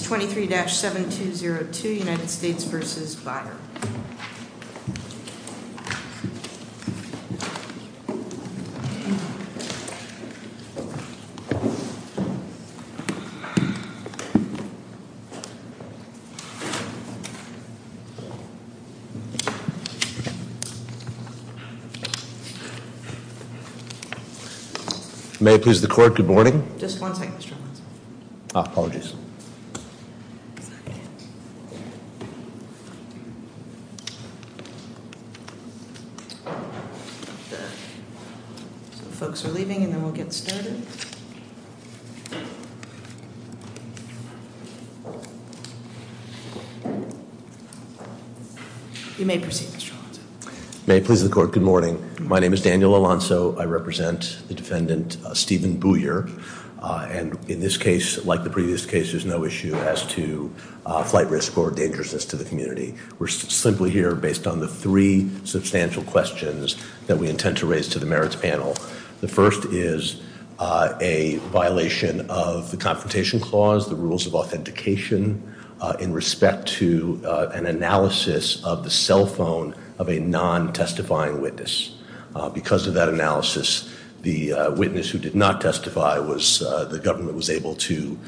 23-7202 United States versus Bader. Yes, please. Okay, folks are leaving and then we'll get started. You may proceed. May please record Good morning. My name is Daniel Alonso I represent the defendant, Stephen Booyer. And in this case, like the previous case, there's no issue as to flight risk or dangerousness to the community. We're simply here based on the three substantial questions that we intend to raise to the merits panel. The first is a violation of the confrontation clause, the rules of authentication, in respect to an analysis of the cell phone of a non testifying witness. Because of that analysis, the witness who did not testify was, the government was able to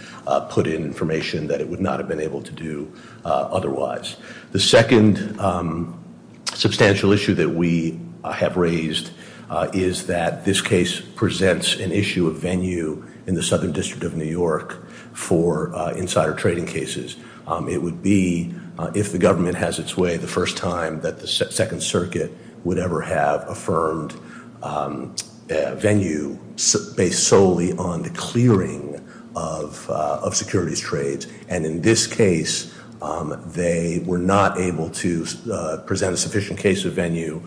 put in information that it would not have been able to do otherwise. The second substantial issue that we have raised is that this case presents an issue of venue in the Southern District of New York for insider trading cases. It would be, if the government has its way, the first time that the Second Circuit would ever have affirmed venue based solely on the clearing of securities trades. And in this case, they were not able to present a sufficient case of venue,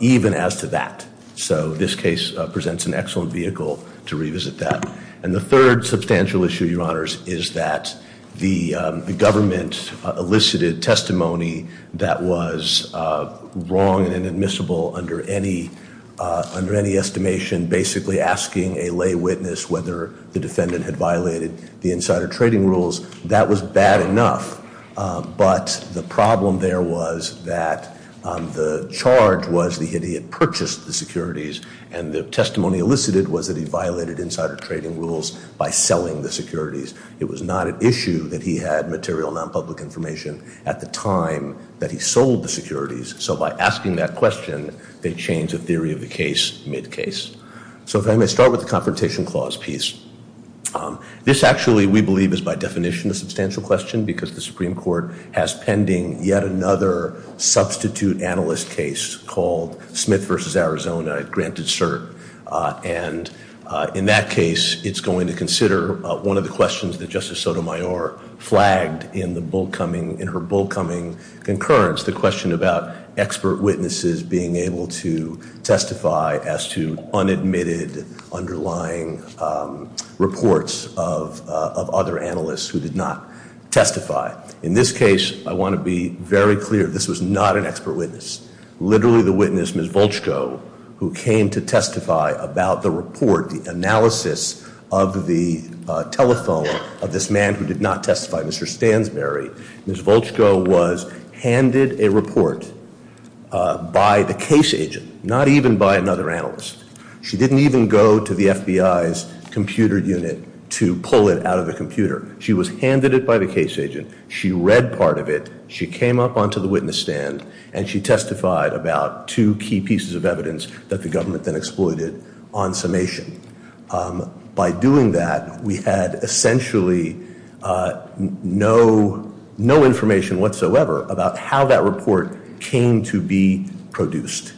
even as to that. So this case presents an excellent vehicle to revisit that. And the third substantial issue, your honors, is that the government elicited testimony that was wrong and inadmissible under any estimation, basically asking a lay witness whether the defendant had violated the insider trading rules. That was bad enough. But the problem there was that the charge was that he had purchased the securities. And the testimony elicited was that he violated insider trading rules by selling the securities. It was not an issue that he had material nonpublic information at the time that he sold the securities. So by asking that question, they changed the theory of the case mid case. So if I may start with the confrontation clause piece. This actually, we believe, is by definition a substantial question because the Supreme Court has pending yet another substitute analyst case called Smith v. Arizona, granted cert. And in that case, it's going to consider one of the questions that Justice Sotomayor flagged in her bull coming concurrence, the question about expert witnesses being able to testify as to unadmitted underlying reports of other analysts who did not testify. In this case, I want to be very clear, this was not an expert witness. Literally the witness, Ms. Volchko, who came to testify about the report, the analysis of the telephone of this man who did not testify, Mr. Stansbury. Ms. Volchko was handed a report by the case agent, not even by another analyst. She didn't even go to the FBI's computer unit to pull it out of the computer. She was handed it by the case agent. She read part of it. She came up onto the witness stand. And she testified about two key pieces of evidence that the government then exploited on summation. By doing that, we had essentially no information whatsoever about how that report came to be produced.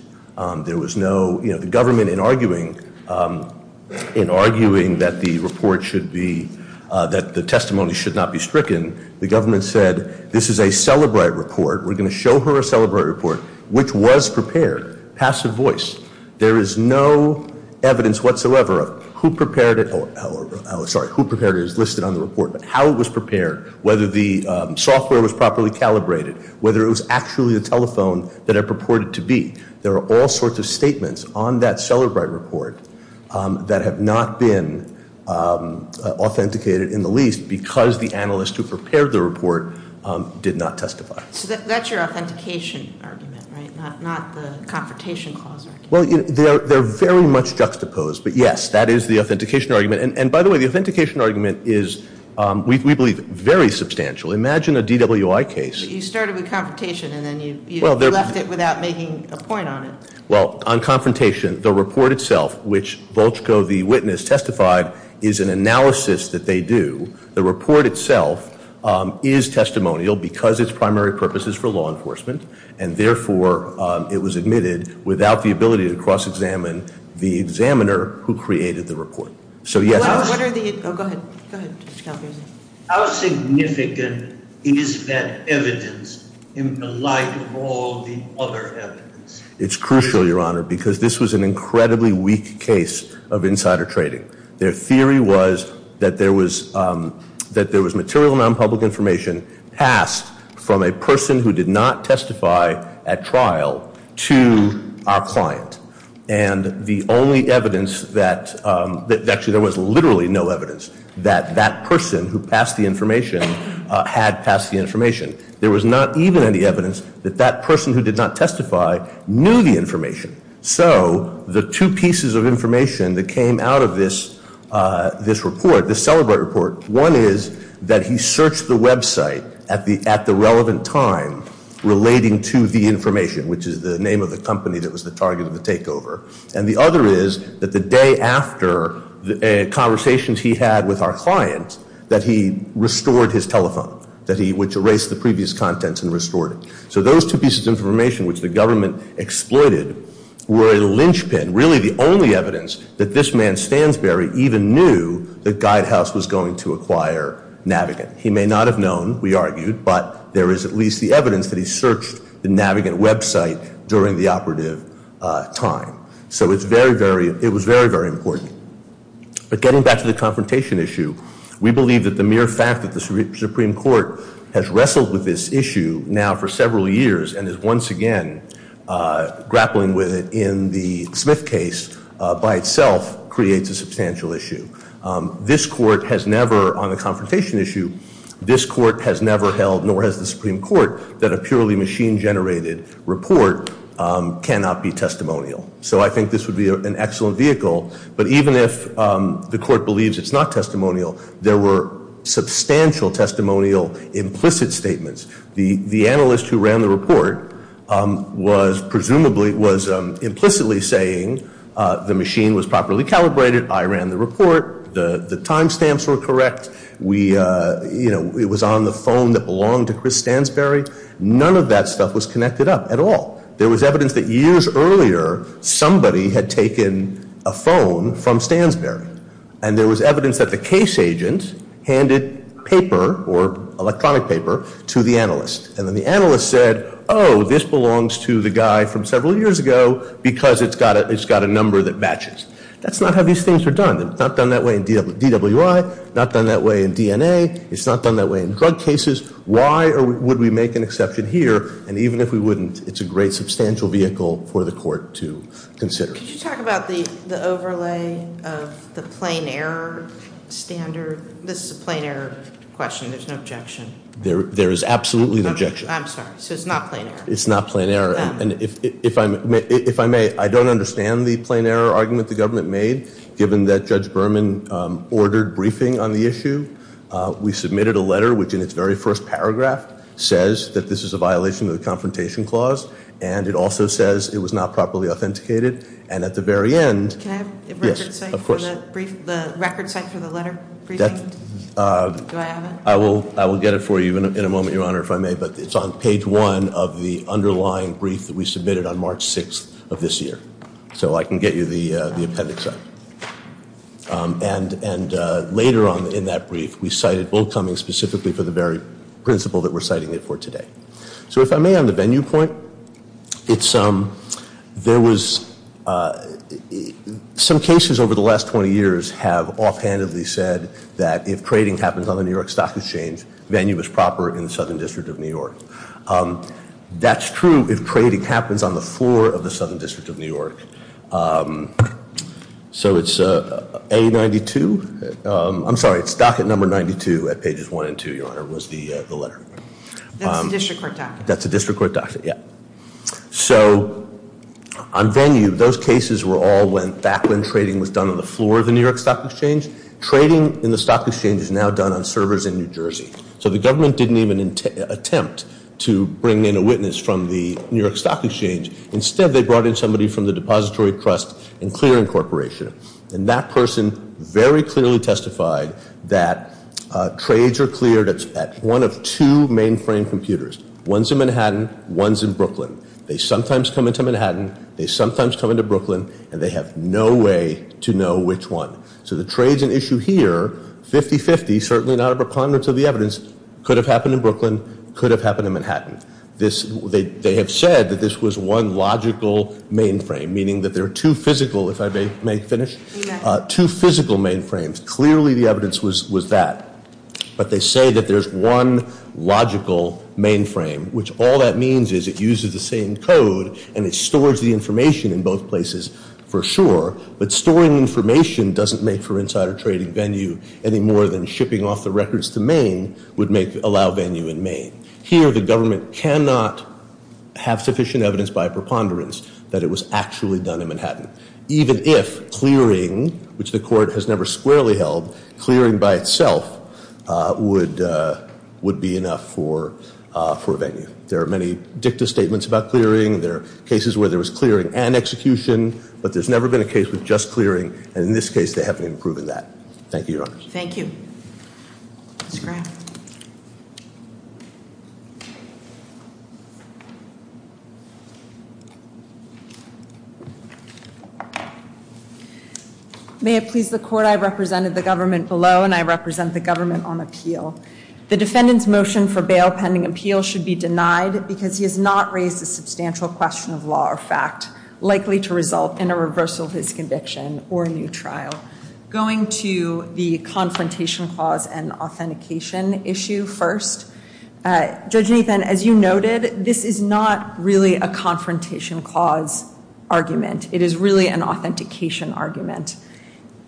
There was no, the government in arguing that the report should be, that the testimony should not be stricken, the government said, this is a celebrate report, we're going to show her a celebrate report, which was prepared. Passive voice. There is no evidence whatsoever of who prepared it, sorry, who prepared it is listed on the report, but how it was prepared, whether the software was properly calibrated, whether it was actually the telephone that it purported to be. There are all sorts of statements on that celebrate report that have not been authenticated in the least because the analyst who prepared the report did not testify. So that's your authentication argument, right? Not the confrontation clause argument. Well, they're very much juxtaposed, but yes, that is the authentication argument. And by the way, the authentication argument is, we believe, very substantial. Imagine a DWI case. You started with confrontation and then you left it without making a point on it. Well, on confrontation, the report itself, which Volchko, the witness, testified, is an analysis that they do. The report itself is testimonial because its primary purpose is for law enforcement. And therefore, it was admitted without the ability to cross-examine the examiner who created the report. So yes. Go ahead. How significant is that evidence in the light of all the other evidence? It's crucial, Your Honor, because this was an incredibly weak case of insider trading. Their theory was that there was material non-public information passed from a person who did not testify at trial to our client. And the only evidence that, actually, there was literally no evidence that that person who passed the information had passed the information. There was not even any evidence that that person who did not testify knew the information. So the two pieces of information that came out of this report, this celebratory report, one is that he searched the website at the relevant time relating to the information, which is the name of the company that was the target of the takeover. And the other is that the day after the conversations he had with our client, that he restored his telephone, which erased the previous contents and restored it. So those two pieces of information, which the government exploited, were a lynchpin. And really the only evidence that this man, Stansberry, even knew that Guidehouse was going to acquire Navigant. He may not have known, we argued, but there is at least the evidence that he searched the Navigant website during the operative time. So it was very, very important. But getting back to the confrontation issue, we believe that the mere fact that the Supreme Court has wrestled with this issue now for several years and is once again grappling with it in the Smith case by itself creates a substantial issue. This court has never, on the confrontation issue, this court has never held, nor has the Supreme Court, that a purely machine-generated report cannot be testimonial. So I think this would be an excellent vehicle. But even if the court believes it's not testimonial, there were substantial testimonial implicit statements. The analyst who ran the report was presumably, was implicitly saying the machine was properly calibrated, I ran the report, the time stamps were correct, it was on the phone that belonged to Chris Stansberry. None of that stuff was connected up at all. There was evidence that years earlier somebody had taken a phone from Stansberry. And there was evidence that the case agent handed paper, or electronic paper, to the analyst. And then the analyst said, oh, this belongs to the guy from several years ago because it's got a number that matches. That's not how these things are done. They're not done that way in DWI, not done that way in DNA, it's not done that way in drug cases. Why would we make an exception here? And even if we wouldn't, it's a great substantial vehicle for the court to consider. Could you talk about the overlay of the plain error standard? This is a plain error question, there's no objection. There is absolutely no objection. I'm sorry, so it's not plain error. It's not plain error. And if I may, I don't understand the plain error argument the government made, given that Judge Berman ordered briefing on the issue. We submitted a letter which in its very first paragraph says that this is a violation of the Confrontation Clause, and it also says it was not properly authenticated. And at the very end, yes, of course. Can I have the record cite for the brief, the record cite for the letter briefing? Do I have it? I will get it for you in a moment, Your Honor, if I may. But it's on page one of the underlying brief that we submitted on March 6th of this year. So I can get you the appendix on it. And later on in that brief, we cited Bull Cummings specifically for the very principle that we're citing it for today. So if I may, on the venue point, it's there was some cases over the last 20 years have offhandedly said that if trading happens on the New York Stock Exchange, venue is proper in the Southern District of New York. That's true if trading happens on the floor of the Southern District of New York. So it's A92. I'm sorry, it's docket number 92 at pages one and two, Your Honor, was the letter. That's a district court docket. That's a district court docket, yeah. So on venue, those cases were all back when trading was done on the floor of the New York Stock Exchange. Trading in the Stock Exchange is now done on servers in New Jersey. So the government didn't even attempt to bring in a witness from the New York Stock Exchange. Instead, they brought in somebody from the Depository Trust and Clearing Corporation. And that person very clearly testified that trades are cleared at one of two mainframe computers. One's in Manhattan. One's in Brooklyn. They sometimes come into Manhattan. They sometimes come into Brooklyn. And they have no way to know which one. So the trade's an issue here. 50-50, certainly not a preponderance of the evidence, could have happened in Brooklyn, could have happened in Manhattan. They have said that this was one logical mainframe, meaning that there are two physical, if I may finish, two physical mainframes. Clearly, the evidence was that. But they say that there's one logical mainframe, which all that means is it uses the same code, and it stores the information in both places for sure. But storing information doesn't make for insider trading venue any more than shipping off the records to Maine would allow venue in Maine. Here, the government cannot have sufficient evidence by preponderance that it was actually done in Manhattan, even if clearing, which the court has never squarely held, clearing by itself would be enough for a venue. There are many dicta statements about clearing. There are cases where there was clearing and execution. But there's never been a case with just clearing. And in this case, they haven't even proven that. Thank you, Your Honor. Thank you. Ms. Graham. May it please the court, I represented the government below, and I represent the government on appeal. The defendant's motion for bail pending appeal should be denied because he has not raised a substantial question of law or fact, likely to result in a reversal of his conviction or a new trial. Going to the confrontation clause and authentication issue first. Judge Nathan, as you noted, this is not really a confrontation clause argument. It is really an authentication argument.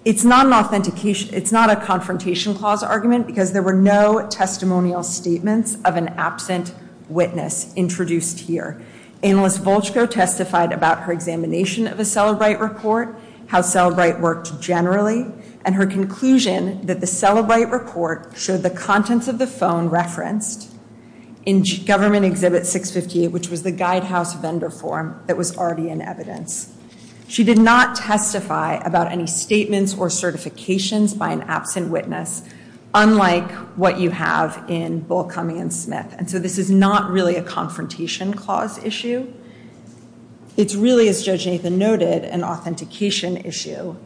It's not a confrontation clause argument because there were no testimonial statements of an absent witness introduced here. Analyst Volchko testified about her examination of a Cellebrite report, how Cellebrite worked generally, and her conclusion that the Cellebrite report showed the contents of the phone referenced in government exhibit 658, which was the guide house vendor form that was already in evidence. She did not testify about any statements or certifications by an absent witness, unlike what you have in Bull, Cumming, and Smith. And so this is not really a confrontation clause issue. It's really, as Judge Nathan noted, an authentication issue.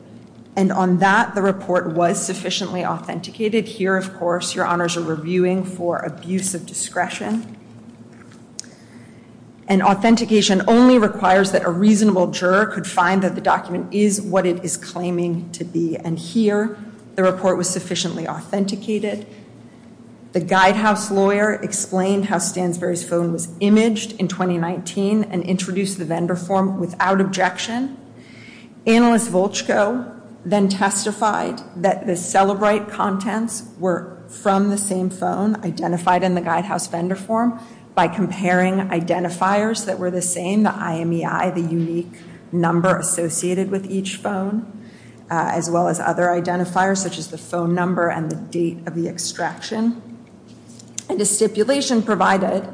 And on that, the report was sufficiently authenticated. Here, of course, your honors are reviewing for abuse of discretion. And authentication only requires that a reasonable juror could find that the document is what it is claiming to be. And here, the report was sufficiently authenticated. The guide house lawyer explained how Stansbury's phone was imaged in 2019 and introduced the vendor form without objection. Analyst Volchko then testified that the Cellebrite contents were from the same phone, identified in the guide house vendor form by comparing identifiers that were the same, the IMEI, the unique number associated with each phone, as well as other identifiers, such as the phone number and the date of the extraction. And a stipulation provided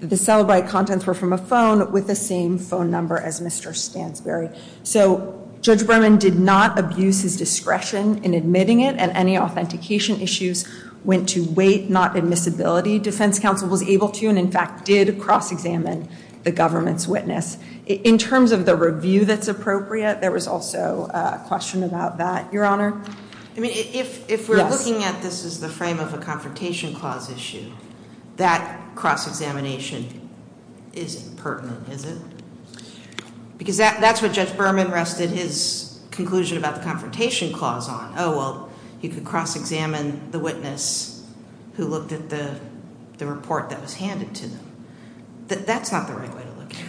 that the Cellebrite contents were from a phone with the same phone number as Mr. Stansbury. So Judge Berman did not abuse his discretion in admitting it, and any authentication issues went to weight, not admissibility. Defense counsel was able to and, in fact, did cross-examine the government's witness. In terms of the review that's appropriate, there was also a question about that, Your Honor. I mean, if we're looking at this as the frame of a confrontation clause issue, that cross-examination isn't pertinent, is it? Because that's what Judge Berman rested his conclusion about the confrontation clause on. Oh, well, you could cross-examine the witness who looked at the report that was handed to them. That's not the right way to look at it.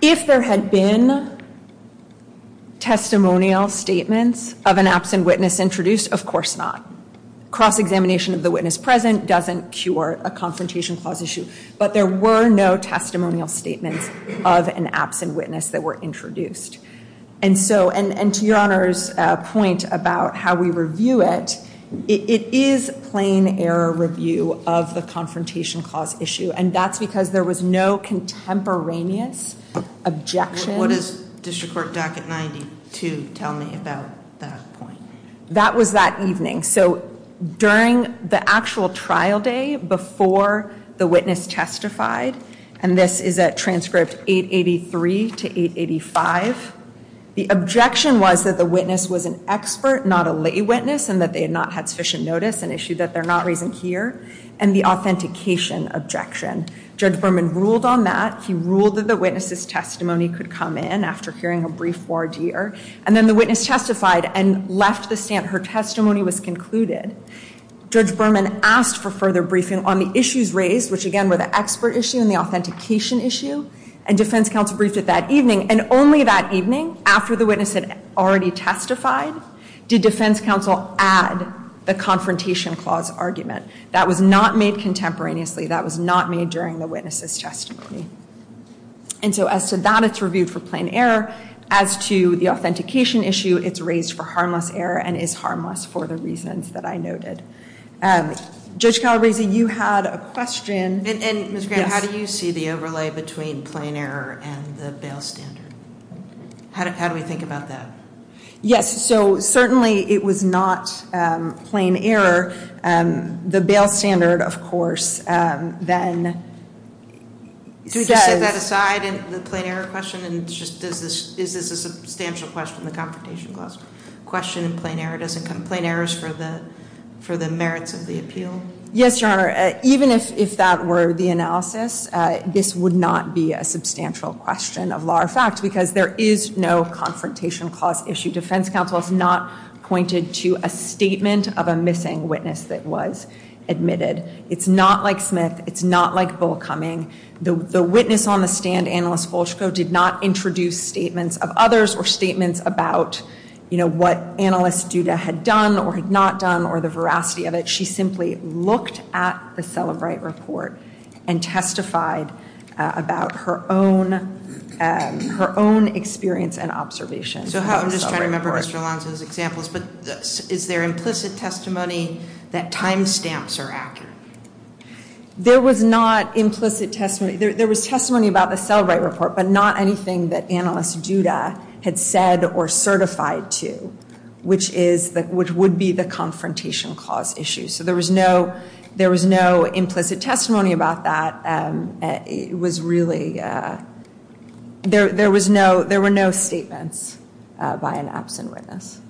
If there had been testimonial statements of an absent witness introduced, of course not. Cross-examination of the witness present doesn't cure a confrontation clause issue, but there were no testimonial statements of an absent witness that were introduced. And so, and to Your Honor's point about how we review it, it is plain error review of the confrontation clause issue, and that's because there was no contemporaneous objection. What does District Court Docket 92 tell me about that point? That was that evening. So during the actual trial day before the witness testified, and this is at transcript 883 to 885, the objection was that the witness was an expert, not a lay witness, and that they had not had sufficient notice, an issue that they're not raising here, and the authentication objection. Judge Berman ruled on that. He ruled that the witness's testimony could come in after hearing a brief voir dire, and then the witness testified and left the stand. Her testimony was concluded. Judge Berman asked for further briefing on the issues raised, which again were the expert issue and the authentication issue, and defense counsel briefed it that evening. And only that evening, after the witness had already testified, did defense counsel add the confrontation clause argument. That was not made contemporaneously. That was not made during the witness's testimony. And so as to that, it's reviewed for plain error. As to the authentication issue, it's raised for harmless error and is harmless for the reasons that I noted. Judge Calabresi, you had a question. And Ms. Graham, how do you see the overlay between plain error and the bail standard? How do we think about that? Yes, so certainly it was not plain error. The bail standard, of course, then says- Do you set that aside in the plain error question? Is this a substantial question, the confrontation clause question in plain error? Does it come plain errors for the merits of the appeal? Yes, Your Honor. Even if that were the analysis, this would not be a substantial question of law or fact because there is no confrontation clause issue. Defense counsel has not pointed to a statement of a missing witness that was admitted. It's not like Smith. It's not like Bullcoming. The witness on the stand, Annalise Fulchko, did not introduce statements of others or statements about what Annalise Duda had done or had not done or the veracity of it. She simply looked at the Celebrate report and testified about her own experience and observation. So I'm just trying to remember Mr. Alonzo's examples, but is there implicit testimony that time stamps are accurate? There was not implicit testimony. There was testimony about the Celebrate report, but not anything that Annalise Duda had said or certified to, which would be the confrontation clause issue. So there was no implicit testimony about that. It was really, there were no statements by an absent witness.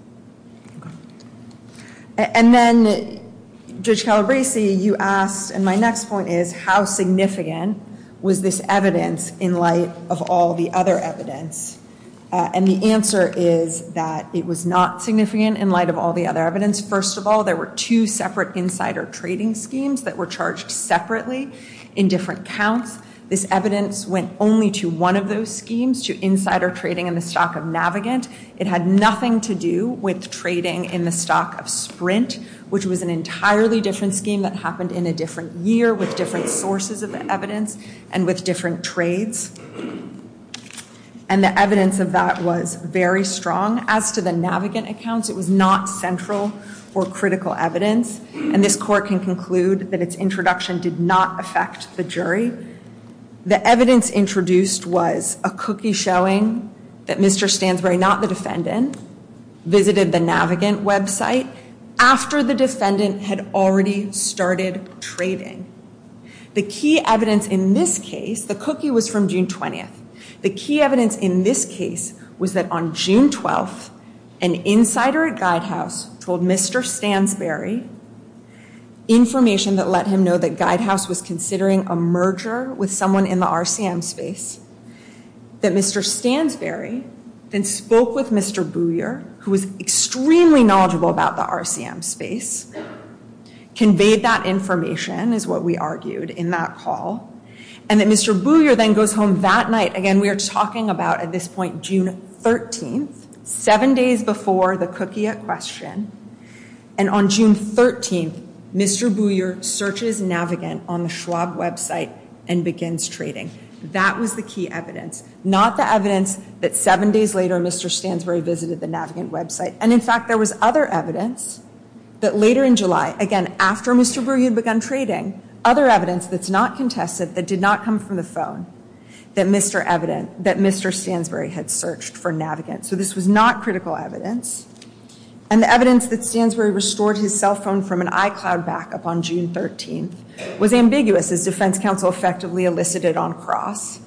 And then, Judge Calabresi, you asked, and my next point is, how significant was this evidence in light of all the other evidence? And the answer is that it was not significant in light of all the other evidence. First of all, there were two separate insider trading schemes that were charged separately in different counts. This evidence went only to one of those schemes, to insider trading in the stock of Navigant. It had nothing to do with trading in the stock of Sprint, which was an entirely different scheme that happened in a different year with different sources of the evidence and with different trades. And the evidence of that was very strong. As to the Navigant accounts, it was not central or critical evidence. And this court can conclude that its introduction did not affect the jury. The evidence introduced was a cookie showing that Mr. Stansbury, not the defendant, visited the Navigant website after the defendant had already started trading. The key evidence in this case, the cookie was from June 20th. The key evidence in this case was that on June 12th, an insider at GuideHouse told Mr. Stansbury information that let him know that GuideHouse was considering a merger with someone in the RCM space, that Mr. Stansbury then spoke with Mr. Booyer, who was extremely knowledgeable about the RCM space, conveyed that information is what we argued in that call, and that Mr. Booyer then goes home that night. Again, we are talking about, at this point, June 13th, seven days before the cookie at question. And on June 13th, Mr. Booyer searches Navigant on the Schwab website and begins trading. That was the key evidence, not the evidence that seven days later, Mr. Stansbury visited the Navigant website. And, in fact, there was other evidence that later in July, again, after Mr. Booyer had begun trading, other evidence that's not contested, that did not come from the phone, that Mr. Stansbury had searched for Navigant. So this was not critical evidence. And the evidence that Stansbury restored his cell phone from an iCloud backup on June 13th was ambiguous, as defense counsel effectively elicited on cross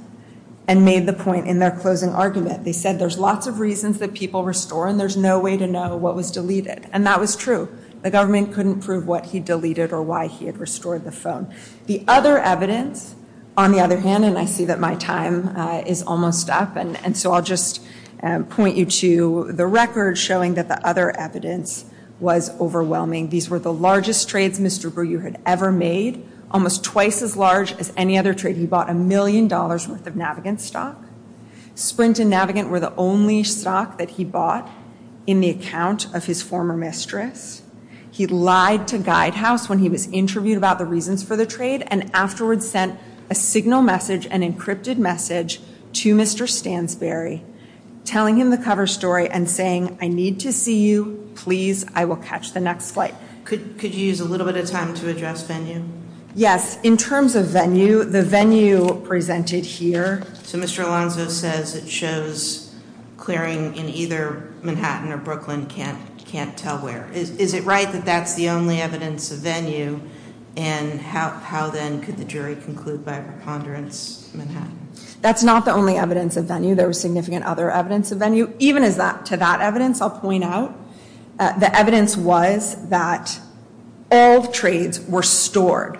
and made the point in their closing argument. They said there's lots of reasons that people restore, and there's no way to know what was deleted. And that was true. The government couldn't prove what he deleted or why he had restored the phone. The other evidence, on the other hand, and I see that my time is almost up, and so I'll just point you to the record showing that the other evidence was overwhelming. These were the largest trades Mr. Booyer had ever made, almost twice as large as any other trade. He bought a million dollars worth of Navigant stock. Sprint and Navigant were the only stock that he bought in the account of his former mistress. He lied to Guidehouse when he was interviewed about the reasons for the trade and afterwards sent a signal message, an encrypted message, to Mr. Stansbury, telling him the cover story and saying, I need to see you. Please, I will catch the next flight. Could you use a little bit of time to address venue? Yes. In terms of venue, the venue presented here. So Mr. Alonzo says it shows clearing in either Manhattan or Brooklyn, can't tell where. Is it right that that's the only evidence of venue? And how then could the jury conclude by preponderance Manhattan? That's not the only evidence of venue. There was significant other evidence of venue. Even to that evidence, I'll point out, the evidence was that all trades were stored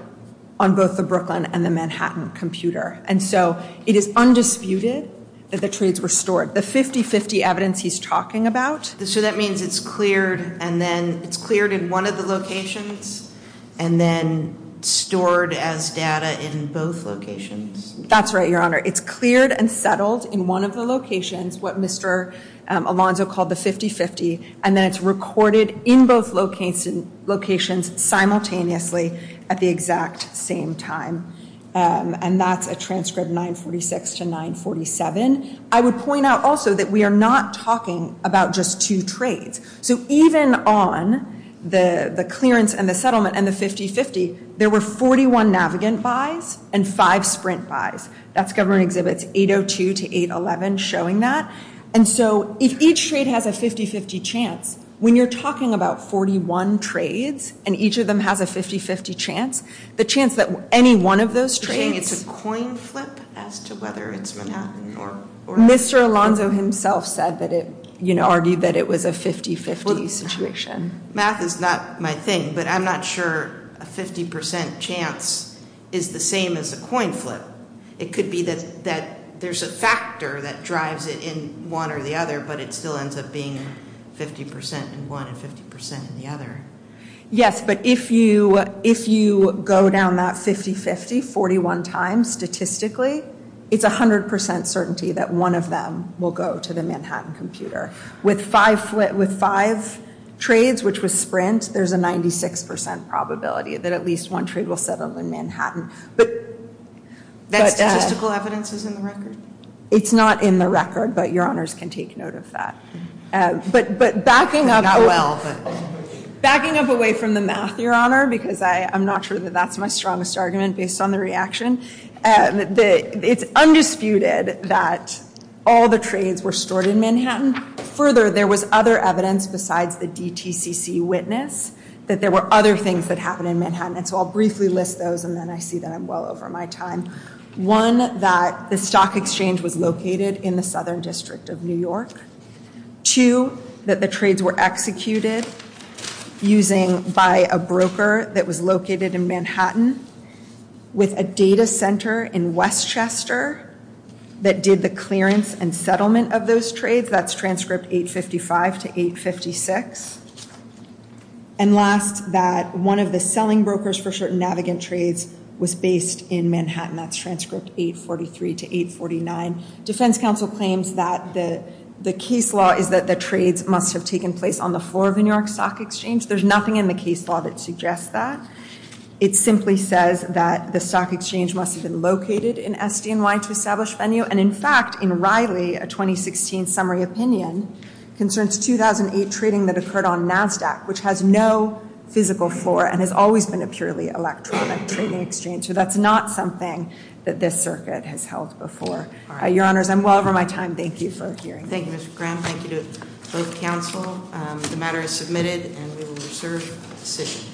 on both the Brooklyn and the Manhattan computer. And so it is undisputed that the trades were stored. The 50-50 evidence he's talking about. So that means it's cleared and then it's cleared in one of the locations and then stored as data in both locations. That's right, Your Honor. It's cleared and settled in one of the locations, what Mr. Alonzo called the 50-50, and then it's recorded in both locations simultaneously at the exact same time. And that's a transcript 946 to 947. I would point out also that we are not talking about just two trades. So even on the clearance and the settlement and the 50-50, there were 41 Navigant buys and five Sprint buys. That's Government Exhibits 802 to 811 showing that. And so if each trade has a 50-50 chance, when you're talking about 41 trades and each of them has a 50-50 chance, the chance that any one of those trades. You're saying it's a coin flip as to whether it's Manhattan or not? Mr. Alonzo himself said that it, you know, argued that it was a 50-50 situation. Math is not my thing, but I'm not sure a 50% chance is the same as a coin flip. It could be that there's a factor that drives it in one or the other, but it still ends up being 50% in one and 50% in the other. Yes, but if you go down that 50-50 41 times statistically, it's 100% certainty that one of them will go to the Manhattan computer. With five trades, which was Sprint, there's a 96% probability that at least one trade will settle in Manhattan. That statistical evidence is in the record? It's not in the record, but your honors can take note of that. But backing up away from the math, your honor, because I'm not sure that that's my strongest argument based on the reaction, it's undisputed that all the trades were stored in Manhattan. Further, there was other evidence besides the DTCC witness that there were other things that happened in Manhattan, and so I'll briefly list those and then I see that I'm well over my time. One, that the stock exchange was located in the southern district of New York. Two, that the trades were executed by a broker that was located in Manhattan with a data center in Westchester that did the clearance and settlement of those trades. That's transcript 855 to 856. And last, that one of the selling brokers for certain Navigant trades was based in Manhattan. That's transcript 843 to 849. Defense counsel claims that the case law is that the trades must have taken place on the floor of the New York Stock Exchange. There's nothing in the case law that suggests that. It simply says that the stock exchange must have been located in SDNY to establish venue, and in fact, in Riley, a 2016 summary opinion, concerns 2008 trading that occurred on NASDAQ, which has no physical floor and has always been a purely electronic trading exchange. So that's not something that this circuit has held before. Your Honors, I'm well over my time. Thank you for hearing me. Thank you, Mr. Graham. Thank you to both counsel. The matter is submitted and we will reserve the decision.